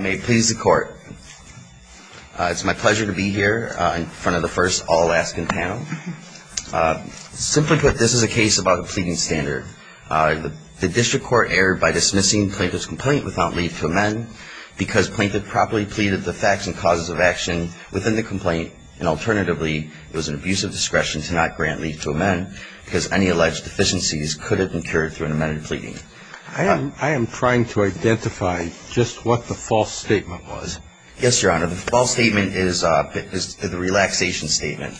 May it please the Court. It's my pleasure to be here in front of the first all-asking panel. Simply put, this is a case about the pleading standard. The district court erred by dismissing Plaintiff's complaint without leave to amend because Plaintiff properly pleaded the facts and causes of action within the complaint, and alternatively, it was an abuse of discretion to not grant leave to amend because any alleged deficiencies could have been cured through an amended pleading. I am trying to identify just what the false statement was. Yes, Your Honor. The false statement is the relaxation statement.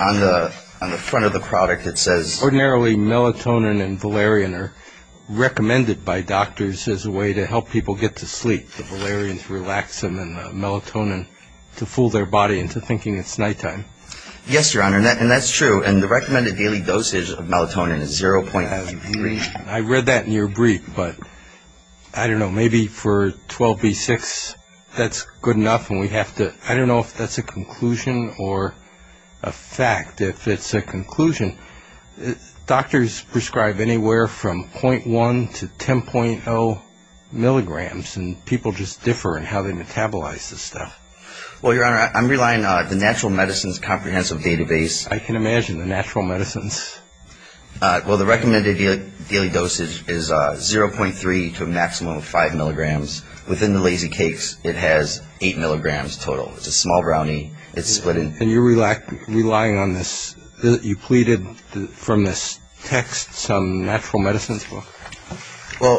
On the front of the product, it says... Ordinarily, melatonin and valerian are recommended by doctors as a way to help people get to sleep. The valerians relax them and the melatonin to fool their body into thinking it's nighttime. Yes, Your Honor, and that's true, and the recommended daily dosage of melatonin is 0.003. I read that in your brief, but I don't know, maybe for 12b6, that's good enough, and we have to, I don't know if that's a conclusion or a fact. If it's a conclusion, doctors prescribe anywhere from 0.1 to 10.0 milligrams, and people just differ in how they metabolize this stuff. Well, Your Honor, I'm relying on the natural medicines comprehensive database. I can imagine the natural medicines. Well, the recommended daily dosage is 0.3 to a maximum of 5 milligrams. Within the Lazy Cakes, it has 8 milligrams total. It's a small brownie. It's split in... And you're relying on this. You pleaded from this text, some natural medicines book? Well,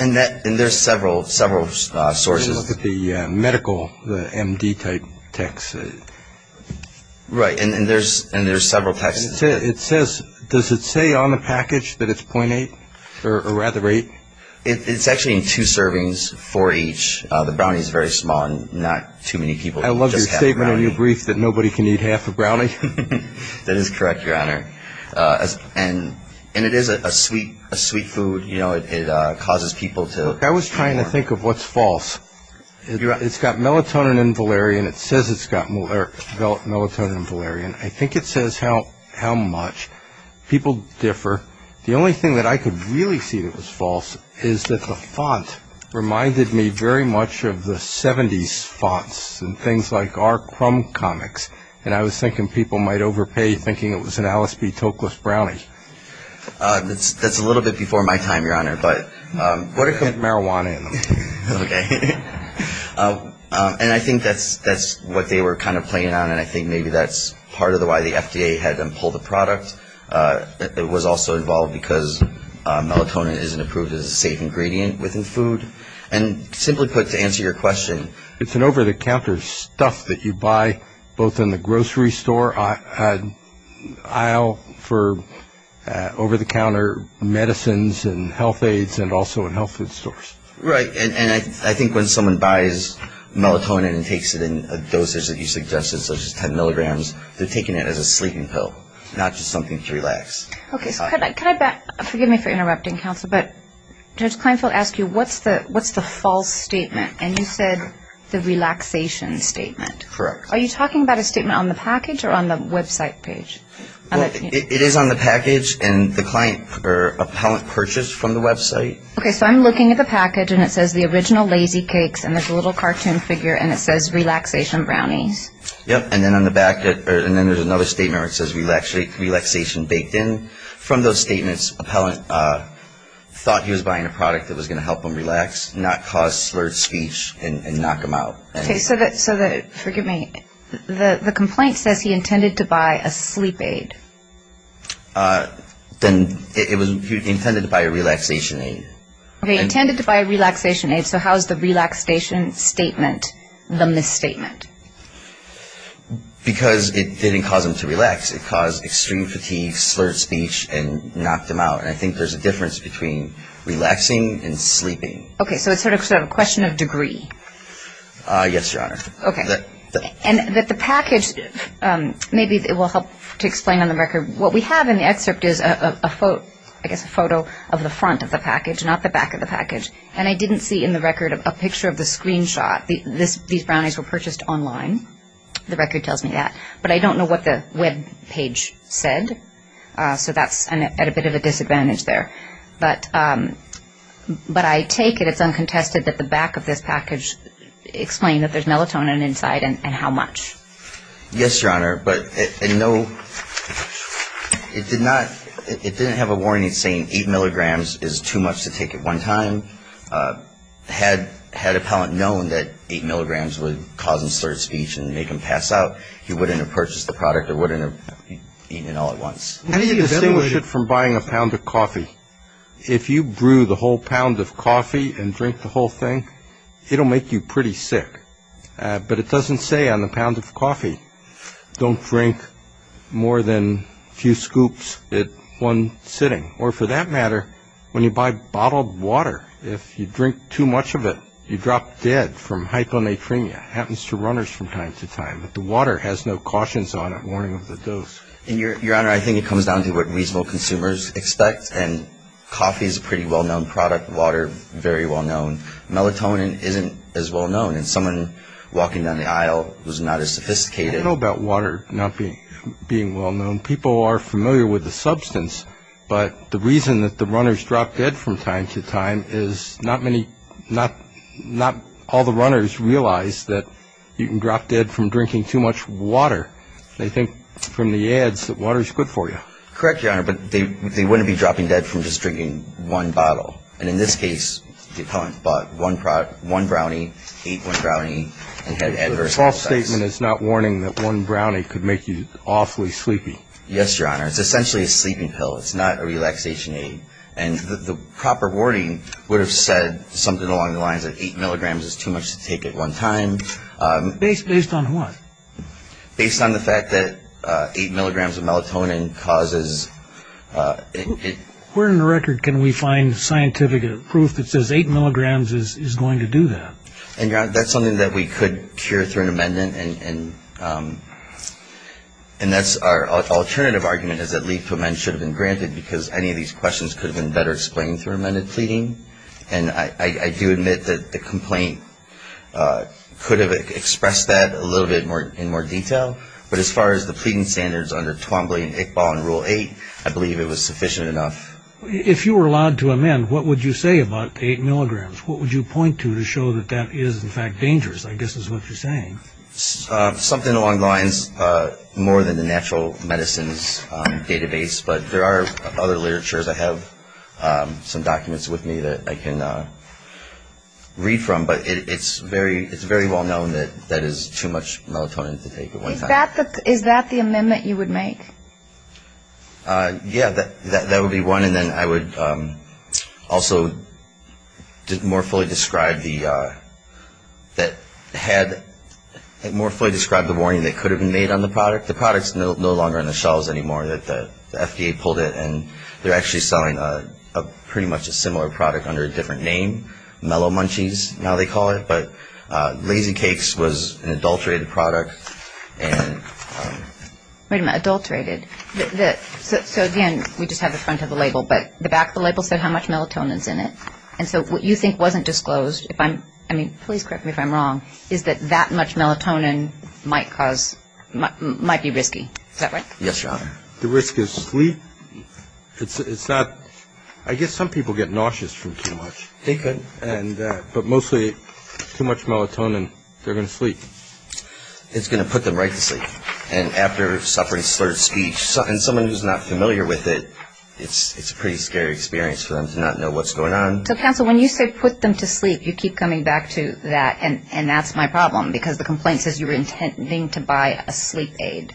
and there's several sources. Look at the medical, the MD type text. Right, and there's several texts. It says, does it say on the package that it's 0.8 or rather 8? It's actually in two servings, four each. The brownie's very small and not too many people just have brownie. I love your statement in your brief that nobody can eat half a brownie. That is correct, Your Honor, and it is a sweet food. You know, it causes people to... I was trying to think of what's false. It's got melatonin and valerian. It says it's got melatonin and valerian. I think it says how much. People differ. The only thing that I could really see that was false is that the font reminded me very much of the 70s fonts and things like our crumb comics, and I was thinking people might overpay thinking it was an Alice B. Toklas brownie. That's a little bit before my time, Your Honor, but... Marijuana in them. Okay. And I think that's what they were kind of playing on, and I think maybe that's part of why the FDA had them pull the product. It was also involved because melatonin isn't approved as a safe ingredient within food. And simply put, to answer your question... It's an over-the-counter stuff that you buy both in the grocery store aisle for over-the-counter medicines and health aids and also in health food stores. Right, and I think when someone buys melatonin and takes it in a dosage that you suggested, such as 10 milligrams, they're taking it as a sleeping pill, not just something to relax. Okay, so could I back up? Forgive me for interrupting, counsel, but Judge Kleinfeld asked you what's the false statement, and you said the relaxation statement. Correct. Are you talking about a statement on the package or on the website page? It is on the package, and the client or appellant purchased from the website. Okay, so I'm looking at the package, and it says the original Lazy Cakes, and there's a little cartoon figure, and it says relaxation brownies. Yep, and then on the back, and then there's another statement where it says relaxation baked in. From those statements, appellant thought he was buying a product that was going to help him relax, not cause slurred speech and knock him out. Okay, so the complaint says he intended to buy a sleep aid. Then he intended to buy a relaxation aid. He intended to buy a relaxation aid, so how is the relaxation statement the misstatement? Because it didn't cause him to relax. It caused extreme fatigue, slurred speech, and knocked him out, and I think there's a difference between relaxing and sleeping. Okay, so it's sort of a question of degree. Yes, Your Honor. Okay. And that the package, maybe it will help to explain on the record. What we have in the excerpt is a photo of the front of the package, not the back of the package, and I didn't see in the record a picture of the screenshot. These brownies were purchased online. The record tells me that. But I don't know what the web page said, so that's at a bit of a disadvantage there. But I take it it's uncontested that the back of this package explain that there's melatonin inside and how much. Yes, Your Honor, but no, it did not, it didn't have a warning saying 8 milligrams is too much to take at one time. Had a palant known that 8 milligrams would cause him slurred speech and make him pass out, he wouldn't have purchased the product or wouldn't have eaten it all at once. How do you distinguish it from buying a pound of coffee? If you brew the whole pound of coffee and drink the whole thing, it will make you pretty sick. But it doesn't say on the pound of coffee, don't drink more than a few scoops at one sitting. Or for that matter, when you buy bottled water, if you drink too much of it, you drop dead from hyponatremia. It happens to runners from time to time. The water has no cautions on it, warning of the dose. Your Honor, I think it comes down to what reasonable consumers expect, and coffee is a pretty well-known product. Water, very well-known. Melatonin isn't as well-known, and someone walking down the aisle who's not as sophisticated. I don't know about water not being well-known. People are familiar with the substance, but the reason that the runners drop dead from time to time is not many, not all the runners realize that you can drop dead from drinking too much water. They think from the ads that water is good for you. Correct, Your Honor, but they wouldn't be dropping dead from just drinking one bottle. And in this case, the opponent bought one brownie, ate one brownie, and had adverse results. The false statement is not warning that one brownie could make you awfully sleepy. Yes, Your Honor. It's essentially a sleeping pill. It's not a relaxation aid. And the proper warning would have said something along the lines of eight milligrams is too much to take at one time. Based on what? Based on the fact that eight milligrams of melatonin causes it. Where in the record can we find scientific proof that says eight milligrams is going to do that? And, Your Honor, that's something that we could cure through an amendment, and that's our alternative argument is that leave to amend should have been granted because any of these questions could have been better explained through amended pleading. And I do admit that the complaint could have expressed that a little bit in more detail, but as far as the pleading standards under Twombly and Iqbal in Rule 8, I believe it was sufficient enough. If you were allowed to amend, what would you say about eight milligrams? What would you point to to show that that is, in fact, dangerous? I guess is what you're saying. Something along the lines more than the natural medicines database, but there are other literatures. I have some documents with me that I can read from, but it's very well known that that is too much melatonin to take at one time. Is that the amendment you would make? Yeah, that would be one. And then I would also more fully describe the warning that could have been made on the product. The product is no longer on the shelves anymore. The FDA pulled it, and they're actually selling pretty much a similar product under a different name, Mellow Munchies, now they call it, but Lazy Cakes was an adulterated product. Wait a minute, adulterated. So, again, we just had the front of the label, but the back of the label said how much melatonin is in it. And so what you think wasn't disclosed, if I'm, I mean, please correct me if I'm wrong, is that that much melatonin might cause, might be risky. Is that right? Yes, Your Honor. The risk is sleep. It's not, I guess some people get nauseous from too much. They could, but mostly too much melatonin, they're going to sleep. It's going to put them right to sleep. And after suffering slurred speech, and someone who's not familiar with it, it's a pretty scary experience for them to not know what's going on. So, counsel, when you say put them to sleep, you keep coming back to that, and that's my problem, because the complaint says you were intending to buy a sleep aid.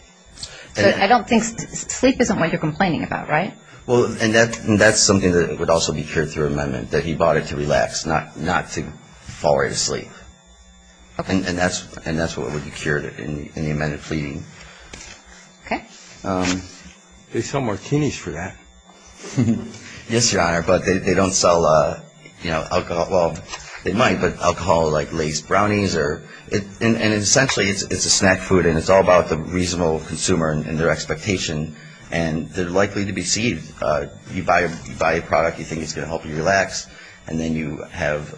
So I don't think, sleep isn't what you're complaining about, right? Well, and that's something that would also be cured through amendment, that he bought it to relax, not to fall right asleep. And that's what would be cured in the amended pleading. Okay. They sell martinis for that. Yes, Your Honor, but they don't sell, you know, alcohol, well, they might, but alcohol like Lays brownies, and essentially it's a snack food, and it's all about the reasonable consumer and their expectation, and they're likely to be deceived. You buy a product, you think it's going to help you relax, and then you have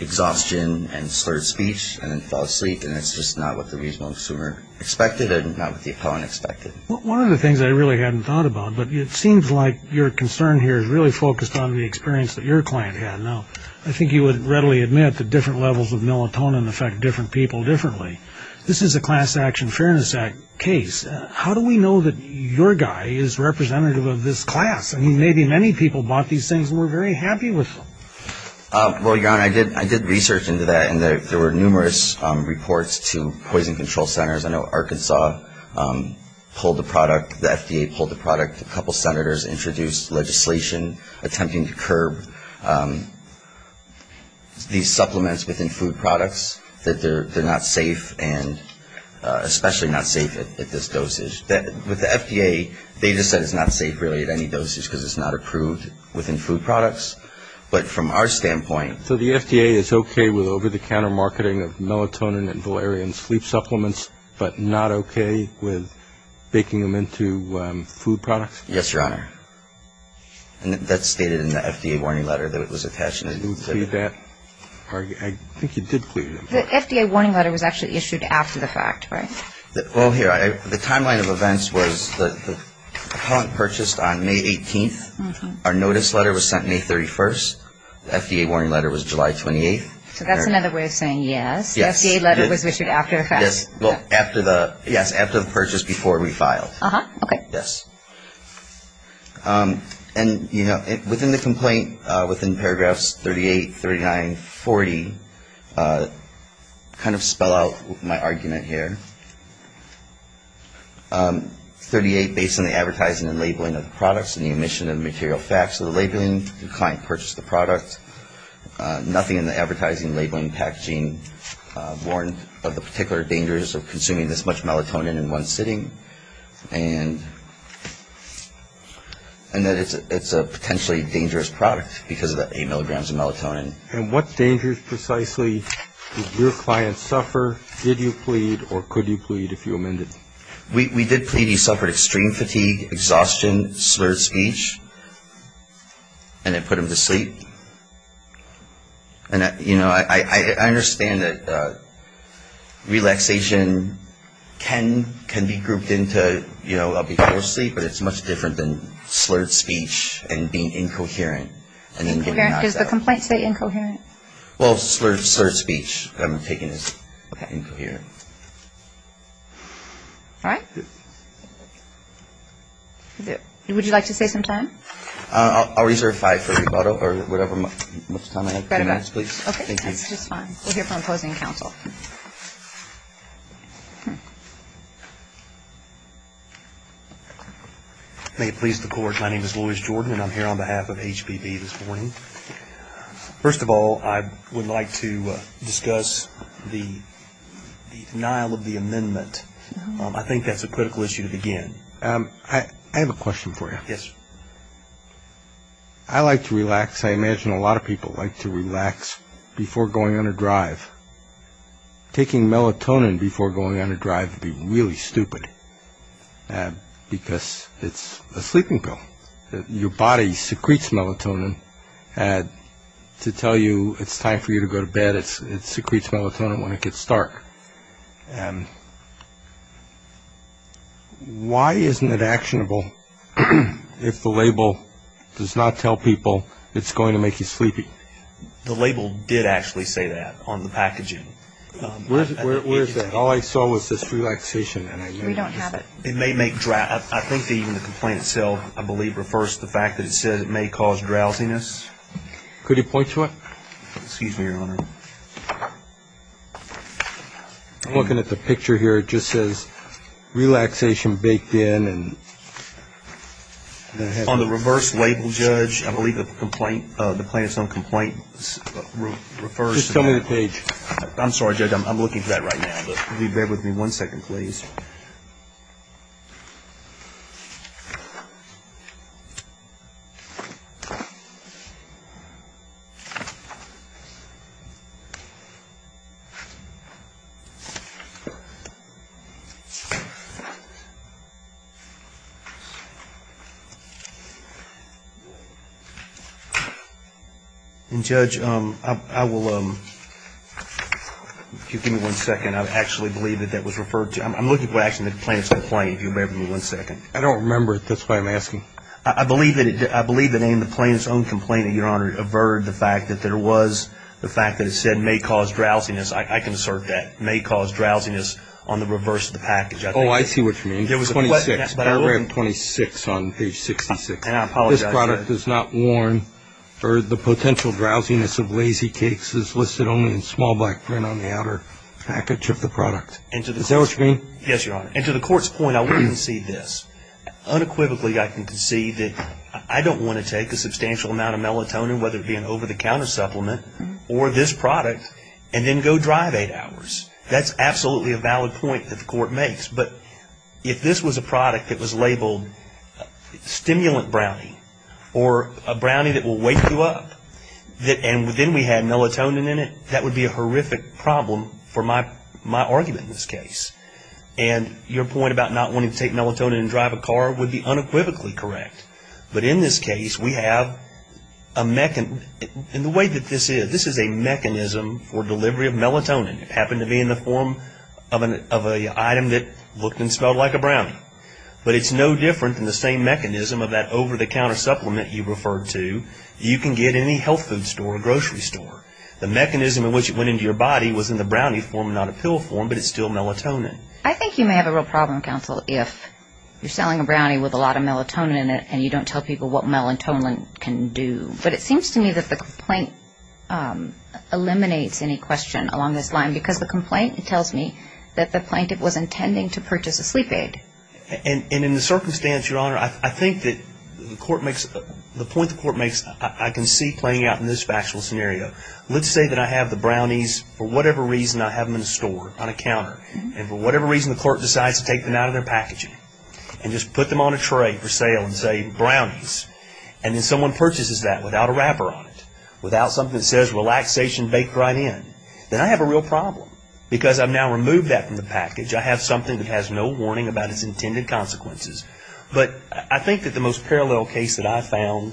exhaustion and slurred speech, and then fall asleep, and it's just not what the reasonable consumer expected, and not what the opponent expected. One of the things I really hadn't thought about, but it seems like your concern here is really focused on the experience that your client had. Now, I think you would readily admit that different levels of melatonin affect different people differently. This is a class action fairness case. How do we know that your guy is representative of this class? I mean, maybe many people bought these things and were very happy with them. Well, Your Honor, I did research into that, and there were numerous reports to poison control centers. I know Arkansas pulled the product. The FDA pulled the product. A couple senators introduced legislation attempting to curb these supplements within food products, that they're not safe and especially not safe at this dosage. With the FDA, they just said it's not safe really at any dosage because it's not approved within food products, but from our standpoint. So the FDA is okay with over-the-counter marketing of melatonin and valerian sleep supplements, but not okay with baking them into food products? Yes, Your Honor. And that's stated in the FDA warning letter that was attached. The FDA warning letter was actually issued after the fact, right? Well, here, the timeline of events was the appellant purchased on May 18th. Our notice letter was sent May 31st. The FDA warning letter was July 28th. So that's another way of saying yes. The FDA letter was issued after the fact. Yes, after the purchase before we filed. Okay. Yes. And, you know, within the complaint, within paragraphs 38, 39, 40, kind of spell out my argument here. 38, based on the advertising and labeling of the products and the omission of material facts of the labeling, the client purchased the product. Nothing in the advertising, labeling, packaging warned of the particular dangers of consuming this much melatonin in one sitting. And that it's a potentially dangerous product because of the eight milligrams of melatonin. And what dangers precisely did your client suffer, did you plead, or could you plead if you amended? We did plead. He suffered extreme fatigue, exhaustion, slurred speech, and it put him to sleep. And, you know, I understand that relaxation can be grouped into, you know, up before sleep, but it's much different than slurred speech and being incoherent. Does the complaint say incoherent? Well, slurred speech, I'm taking as incoherent. All right. Would you like to say some time? I'll reserve five for rebuttal or whatever time I have. Five minutes, please. Okay, that's just fine. We'll hear from opposing counsel. May it please the Court, my name is Louis Jordan, and I'm here on behalf of HPV this morning. First of all, I would like to discuss the denial of the amendment. I think that's a critical issue to begin. I have a question for you. Yes. I like to relax. I imagine a lot of people like to relax before going on a drive. Taking melatonin before going on a drive would be really stupid because it's a sleeping pill. Your body secretes melatonin to tell you it's time for you to go to bed. It secretes melatonin when it gets dark. Why isn't it actionable if the label does not tell people it's going to make you sleepy? The label did actually say that on the packaging. Where is that? All I saw was this relaxation. We don't have it. I think even the complaint itself, I believe, refers to the fact that it says it may cause drowsiness. Could you point to it? Excuse me, Your Honor. I'm looking at the picture here. It just says relaxation baked in. On the reverse label, Judge, I believe the complaint, the plaintiff's own complaint, refers to that. Just tell me the page. I'm sorry, Judge. I'm looking for that right now. Will you bear with me one second, please? And, Judge, I will give you one second. I actually believe that that was referred to. I'm looking for actually the plaintiff's own complaint, if you'll bear with me one second. I don't remember it. That's why I'm asking. I believe that in the plaintiff's own complaint, Your Honor, it averted the fact that there was the fact that it said may cause drowsiness. I can assert that. May cause drowsiness on the reverse of the package, I think. Oh, I see what you mean. It was 26. Paragraph 26 on page 66. And I apologize, Judge. This product does not warn or the potential drowsiness of lazy cakes is listed only in small black print on the outer package of the product. Is that what you mean? Yes, Your Honor. And to the court's point, I would concede this. Unequivocally, I can concede that I don't want to take a substantial amount of melatonin, whether it be an over-the-counter supplement or this product, and then go drive eight hours. That's absolutely a valid point that the court makes. But if this was a product that was labeled stimulant brownie or a brownie that will wake you up, and then we had melatonin in it, that would be a horrific problem for my argument in this case. And your point about not wanting to take melatonin and drive a car would be unequivocally correct. But in this case, we have a mechanism. And the way that this is, this is a mechanism for delivery of melatonin. It happened to be in the form of an item that looked and smelled like a brownie. But it's no different than the same mechanism of that over-the-counter supplement you referred to. You can get in any health food store or grocery store. The mechanism in which it went into your body was in the brownie form, not a pill form, but it's still melatonin. I think you may have a real problem, counsel, if you're selling a brownie with a lot of melatonin in it and you don't tell people what melatonin can do. But it seems to me that the complaint eliminates any question along this line because the complaint tells me that the plaintiff was intending to purchase a sleep aid. And in the circumstance, Your Honor, I think that the point the court makes, I can see playing out in this factual scenario. Let's say that I have the brownies, for whatever reason, I have them in a store on a counter. And for whatever reason, the court decides to take them out of their packaging and just put them on a tray for sale and say, brownies. And then someone purchases that without a wrapper on it, without something that says relaxation baked right in. Then I have a real problem because I've now removed that from the package. I have something that has no warning about its intended consequences. But I think that the most parallel case that I've found,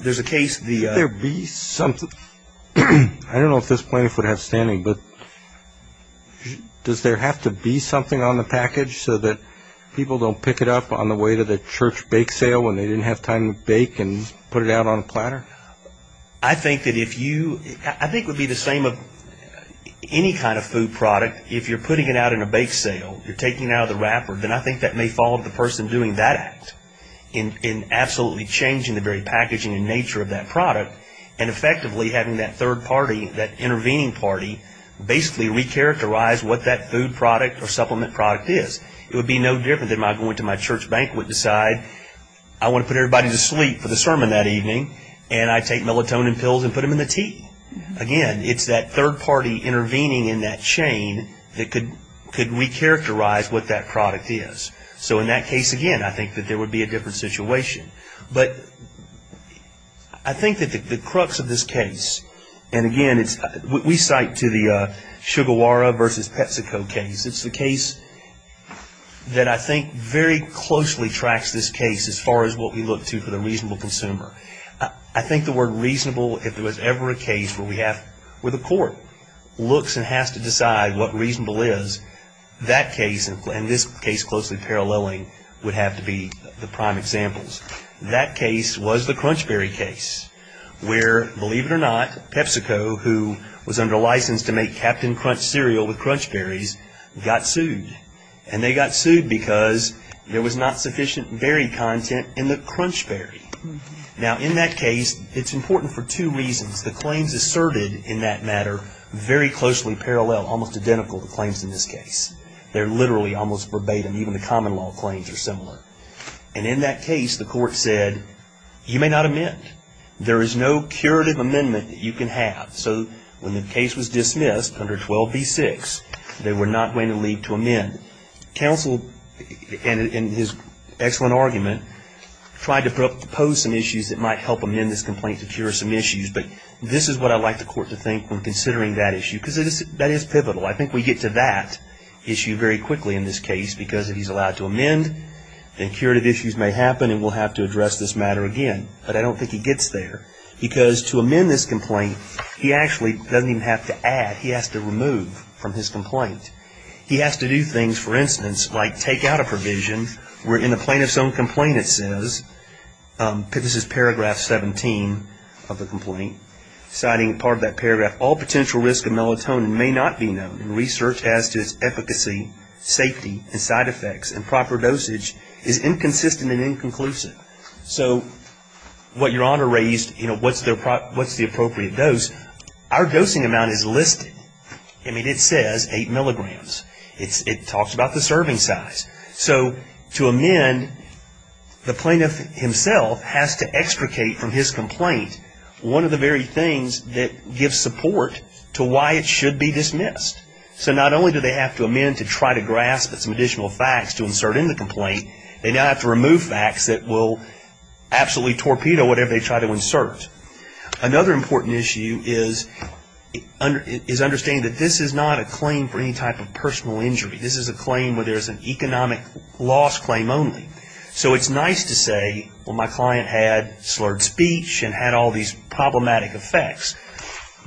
there's a case the ---- Could there be something? I don't know if this plaintiff would have standing, but does there have to be something on the package so that people don't pick it up on the way to the church bake sale when they didn't have time to bake and put it out on a platter? I think that if you ---- I think it would be the same of any kind of food product. But if you're putting it out in a bake sale, you're taking it out of the wrapper, then I think that may fall to the person doing that act in absolutely changing the very packaging and nature of that product and effectively having that third party, that intervening party, basically recharacterize what that food product or supplement product is. It would be no different than if I go into my church banquet and decide I want to put everybody to sleep for the sermon that evening and I take melatonin pills and put them in the tea. Again, it's that third party intervening in that chain that could recharacterize what that product is. So in that case, again, I think that there would be a different situation. But I think that the crux of this case, and again, we cite to the Sugawara versus Petsico case. It's the case that I think very closely tracks this case as far as what we look to for the reasonable consumer. I think the word reasonable, if there was ever a case where we have, where the court looks and has to decide what reasonable is, that case and this case closely paralleling would have to be the prime examples. That case was the Crunchberry case where, believe it or not, Petsico, who was under license to make Captain Crunch cereal with Crunchberries, got sued. And they got sued because there was not sufficient berry content in the Crunchberry. Now, in that case, it's important for two reasons. The claims asserted in that matter very closely parallel, almost identical to claims in this case. They're literally almost verbatim. Even the common law claims are similar. And in that case, the court said, you may not amend. There is no curative amendment that you can have. So when the case was dismissed under 12b-6, they were not going to leave to amend. And counsel, in his excellent argument, tried to propose some issues that might help amend this complaint to cure some issues. But this is what I'd like the court to think when considering that issue, because that is pivotal. I think we get to that issue very quickly in this case, because if he's allowed to amend, then curative issues may happen and we'll have to address this matter again. But I don't think he gets there, because to amend this complaint, he actually doesn't even have to add. He has to remove from his complaint. He has to do things, for instance, like take out a provision where in the plaintiff's own complaint it says, this is paragraph 17 of the complaint, citing part of that paragraph, all potential risk of melatonin may not be known in research as to its efficacy, safety, and side effects, and proper dosage is inconsistent and inconclusive. So what Your Honor raised, what's the appropriate dose, our dosing amount is listed. It says 8 milligrams. It talks about the serving size. So to amend, the plaintiff himself has to extricate from his complaint one of the very things that gives support to why it should be dismissed. So not only do they have to amend to try to grasp at some additional facts to insert into the complaint, they now have to remove facts that will absolutely torpedo whatever they try to insert. Another important issue is understanding that this is not a claim for any type of personal injury. This is a claim where there's an economic loss claim only. So it's nice to say, well, my client had slurred speech and had all these problematic effects,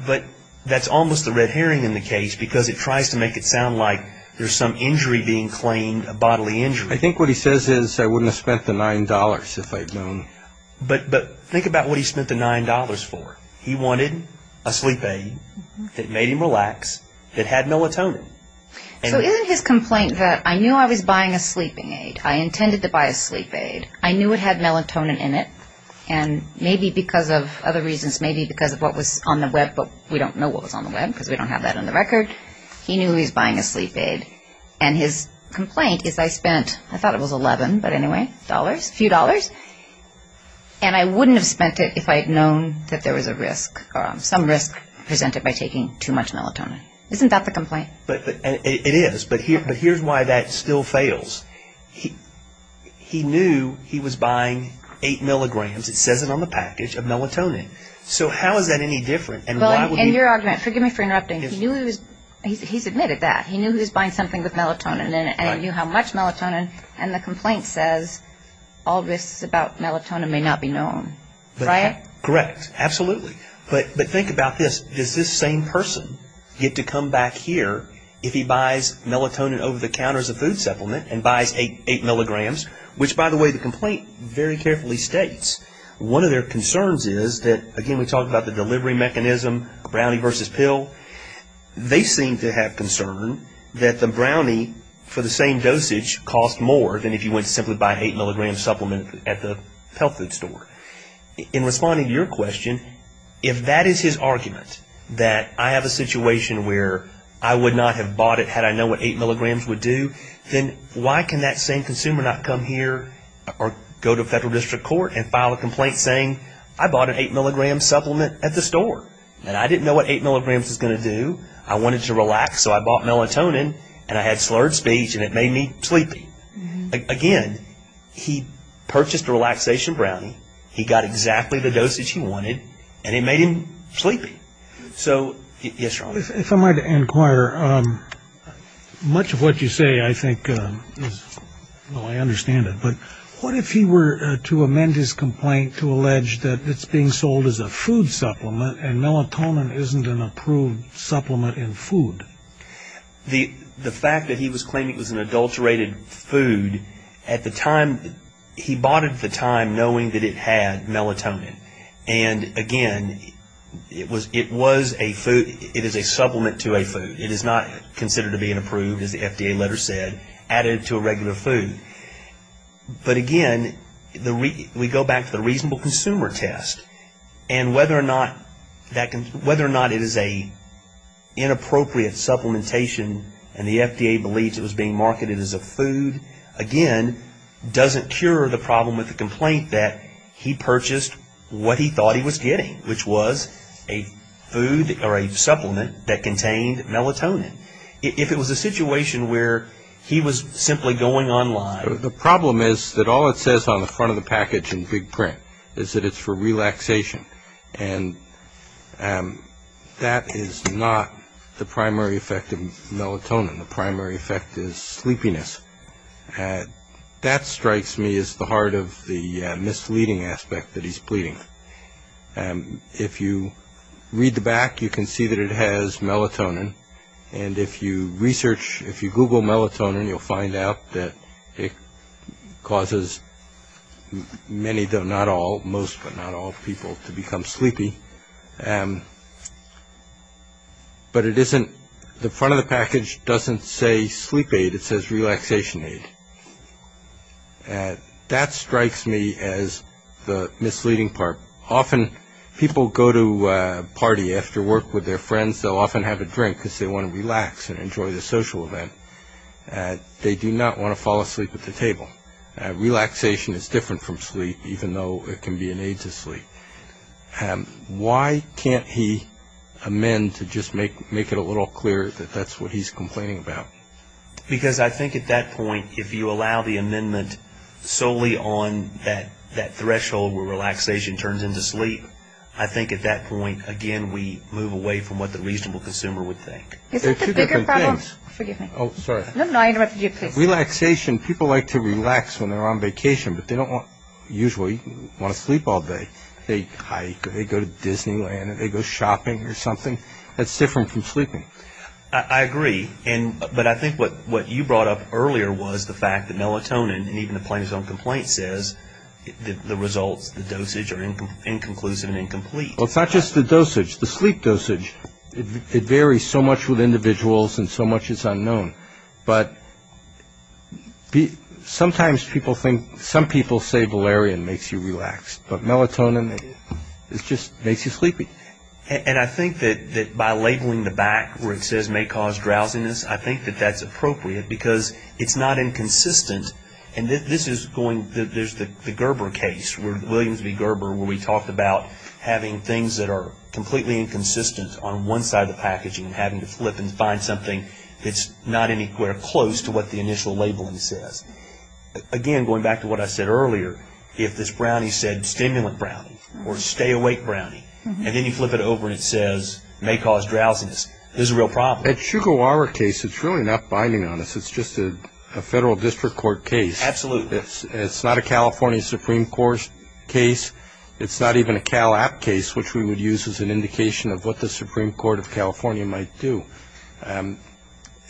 but that's almost the red herring in the case because it tries to make it sound like there's some injury being claimed, a bodily injury. But think about what he spent the $9 for. He wanted a sleep aid that made him relax that had melatonin. So isn't his complaint that I knew I was buying a sleeping aid, I intended to buy a sleep aid, I knew it had melatonin in it, and maybe because of other reasons, maybe because of what was on the Web, but we don't know what was on the Web because we don't have that on the record, he knew he was buying a sleep aid. And his complaint is I spent, I thought it was $11, but anyway, dollars, a few dollars, and I wouldn't have spent it if I had known that there was a risk or some risk presented by taking too much melatonin. Isn't that the complaint? It is, but here's why that still fails. He knew he was buying 8 milligrams. It says it on the package of melatonin. So how is that any different? Well, in your argument, forgive me for interrupting, he's admitted that. He knew he was buying something with melatonin in it, and he knew how much melatonin, and the complaint says all risks about melatonin may not be known, right? Correct. Absolutely. But think about this. Does this same person get to come back here if he buys melatonin over-the-counter as a food supplement and buys 8 milligrams, which, by the way, the complaint very carefully states. One of their concerns is that, again, we talked about the delivery mechanism, brownie versus pill. They seem to have concern that the brownie, for the same dosage, costs more than if you went to simply buy an 8-milligram supplement at the health food store. In responding to your question, if that is his argument, that I have a situation where I would not have bought it had I known what 8 milligrams would do, then why can that same consumer not come here or go to federal district court and file a complaint saying I bought an 8-milligram supplement at the store and I didn't know what 8 milligrams was going to do, I wanted to relax, so I bought melatonin and I had slurred speech and it made me sleepy. Again, he purchased a relaxation brownie, he got exactly the dosage he wanted, and it made him sleepy. So, yes, Ron? If I might inquire, much of what you say, I think, well, I understand it, but what if he were to amend his complaint to allege that it's being sold as a food supplement and melatonin isn't an approved supplement in food? The fact that he was claiming it was an adulterated food, at the time, he bought it at the time knowing that it had melatonin. And, again, it was a food, it is a supplement to a food. It is not considered to be an approved, as the FDA letter said, added to a regular food. But, again, we go back to the reasonable consumer test and whether or not it is an inappropriate supplementation and the FDA believes it was being marketed as a food, again, doesn't cure the problem with the complaint that he purchased what he thought he was getting, which was a food or a supplement that contained melatonin. If it was a situation where he was simply going online... The problem is that all it says on the front of the package in big print is that it's for relaxation, and that is not the primary effect of melatonin. The primary effect is sleepiness. That strikes me as the heart of the misleading aspect that he's pleading. If you read the back, you can see that it has melatonin, and if you research, if you Google melatonin, you'll find out that it causes many, though not all, most but not all people to become sleepy. But the front of the package doesn't say sleep aid. It says relaxation aid. That strikes me as the misleading part. Often people go to a party after work with their friends. They'll often have a drink because they want to relax and enjoy the social event. They do not want to fall asleep at the table. Relaxation is different from sleep, even though it can be an aid to sleep. Why can't he amend to just make it a little clearer that that's what he's complaining about? Because I think at that point, if you allow the amendment solely on that threshold where relaxation turns into sleep, I think at that point, again, we move away from what the reasonable consumer would think. Isn't the bigger problem? There are two different things. Forgive me. Oh, sorry. No, no, I interrupted you. Please. Relaxation, people like to relax when they're on vacation, but they don't usually want to sleep all day. They hike, or they go to Disneyland, or they go shopping or something. That's different from sleeping. I agree, but I think what you brought up earlier was the fact that melatonin, and even the plaintiff's own complaint says the results, the dosage, are inconclusive and incomplete. Well, it's not just the dosage. The sleep dosage, it varies so much with individuals and so much is unknown. But sometimes people think, some people say valerian makes you relax, but melatonin, it just makes you sleepy. And I think that by labeling the back where it says may cause drowsiness, I think that that's appropriate because it's not inconsistent, and this is going, there's the Gerber case, Williams v. Gerber, where we talked about having things that are completely inconsistent on one side of the packaging and having to flip and find something that's not anywhere close to what the initial labeling says. Again, going back to what I said earlier, if this brownie said stimulant brownie or stay awake brownie, and then you flip it over and it says may cause drowsiness, this is a real problem. At Shugawara case, it's really not binding on us. It's just a federal district court case. Absolutely. It's not a California Supreme Court case. It's not even a Cal App case, which we would use as an indication of what the Supreme Court of California might do.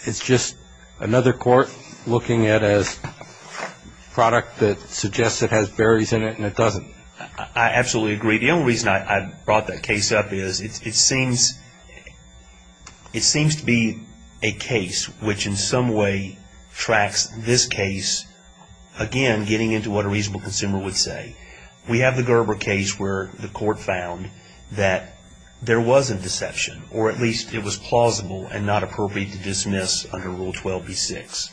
It's just another court looking at a product that suggests it has berries in it and it doesn't. I absolutely agree. The only reason I brought that case up is it seems to be a case which in some way tracks this case, again, getting into what a reasonable consumer would say. We have the Gerber case where the court found that there was a deception, or at least it was plausible and not appropriate to dismiss under Rule 12b-6.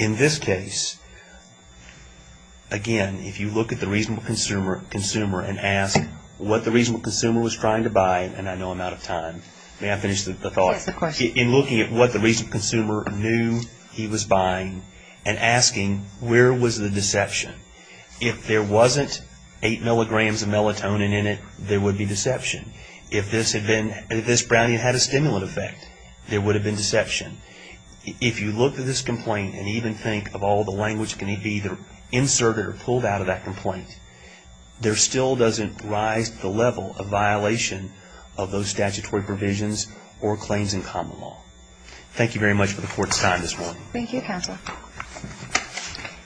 In this case, again, if you look at the reasonable consumer and ask what the reasonable consumer was trying to buy, and I know I'm out of time. May I finish the thought? Yes, of course. In looking at what the reasonable consumer knew he was buying and asking where was the deception. If there wasn't eight milligrams of melatonin in it, there would be deception. If this brownie had a stimulant effect, there would have been deception. If you look at this complaint and even think of all the language that can be either inserted or pulled out of that complaint, there still doesn't rise to the level of violation of those statutory provisions or claims in common law. Thank you very much for the court's time this morning. Thank you, Counsel.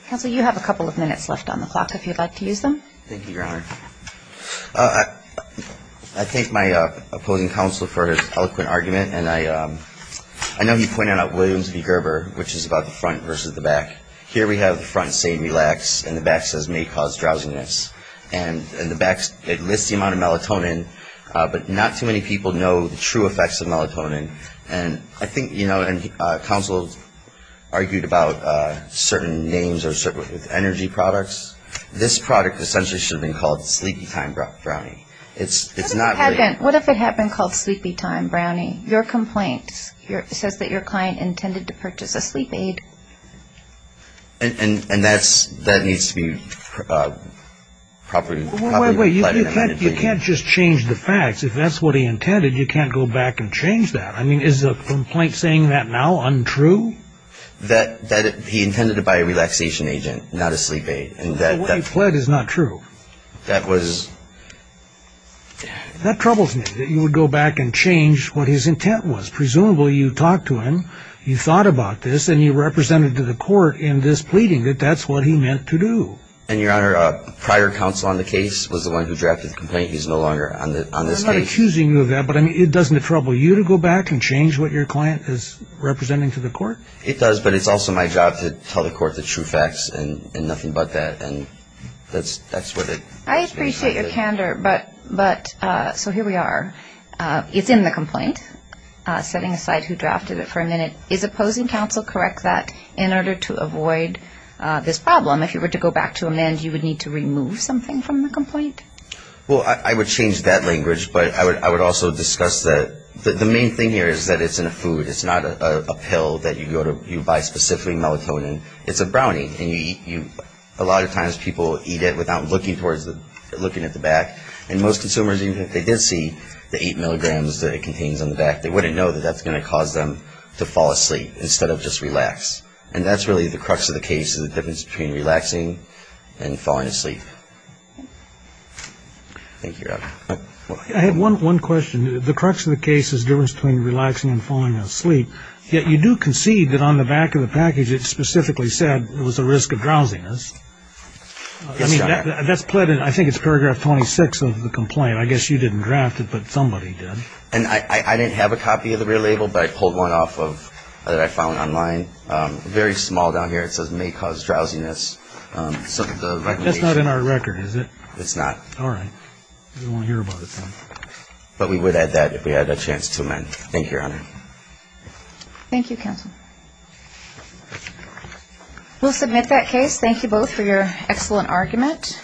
Counsel, you have a couple of minutes left on the clock if you'd like to use them. Thank you, Your Honor. I thank my opposing counsel for his eloquent argument. And I know he pointed out Williams v. Gerber, which is about the front versus the back. Here we have the front saying relax and the back says may cause drowsiness. And the back, it lists the amount of melatonin, but not too many people know the true effects of melatonin. And I think, you know, and counsel argued about certain names or certain energy products. This product essentially should have been called Sleepy Time Brownie. What if it had been called Sleepy Time Brownie? Your complaint says that your client intended to purchase a sleep aid. And that needs to be properly- Wait, wait. You can't just change the facts. If that's what he intended, you can't go back and change that. I mean, is the complaint saying that now untrue? That he intended to buy a relaxation agent, not a sleep aid. What he pled is not true. That was- That troubles me, that you would go back and change what his intent was. Presumably you talked to him, you thought about this, and you represented to the court in this pleading that that's what he meant to do. And, Your Honor, prior counsel on the case was the one who drafted the complaint. He's no longer on this case. I'm not accusing you of that, but, I mean, doesn't it trouble you to go back and change what your client is representing to the court? It does, but it's also my job to tell the court the true facts and nothing but that. And that's what it- I appreciate your candor, but, so here we are. It's in the complaint, setting aside who drafted it for a minute. Is opposing counsel correct that in order to avoid this problem, if you were to go back to amend, you would need to remove something from the complaint? Well, I would change that language, but I would also discuss that the main thing here is that it's in a food. It's not a pill that you buy specifically melatonin. It's a brownie, and you eat- a lot of times people eat it without looking at the back. And most consumers, even if they did see the eight milligrams that it contains on the back, they wouldn't know that that's going to cause them to fall asleep instead of just relax. And that's really the crux of the case, is the difference between relaxing and falling asleep. Thank you, Robert. I have one question. The crux of the case is the difference between relaxing and falling asleep, yet you do concede that on the back of the package it specifically said it was a risk of drowsiness. Yes, Your Honor. That's pled in, I think it's paragraph 26 of the complaint. I guess you didn't draft it, but somebody did. And I didn't have a copy of the real label, but I pulled one off that I found online. Very small down here. It says may cause drowsiness. That's not in our record, is it? It's not. All right. We won't hear about it then. But we would add that if we had a chance to, then. Thank you, Your Honor. Thank you, counsel. We'll submit that case. Thank you both for your excellent argument.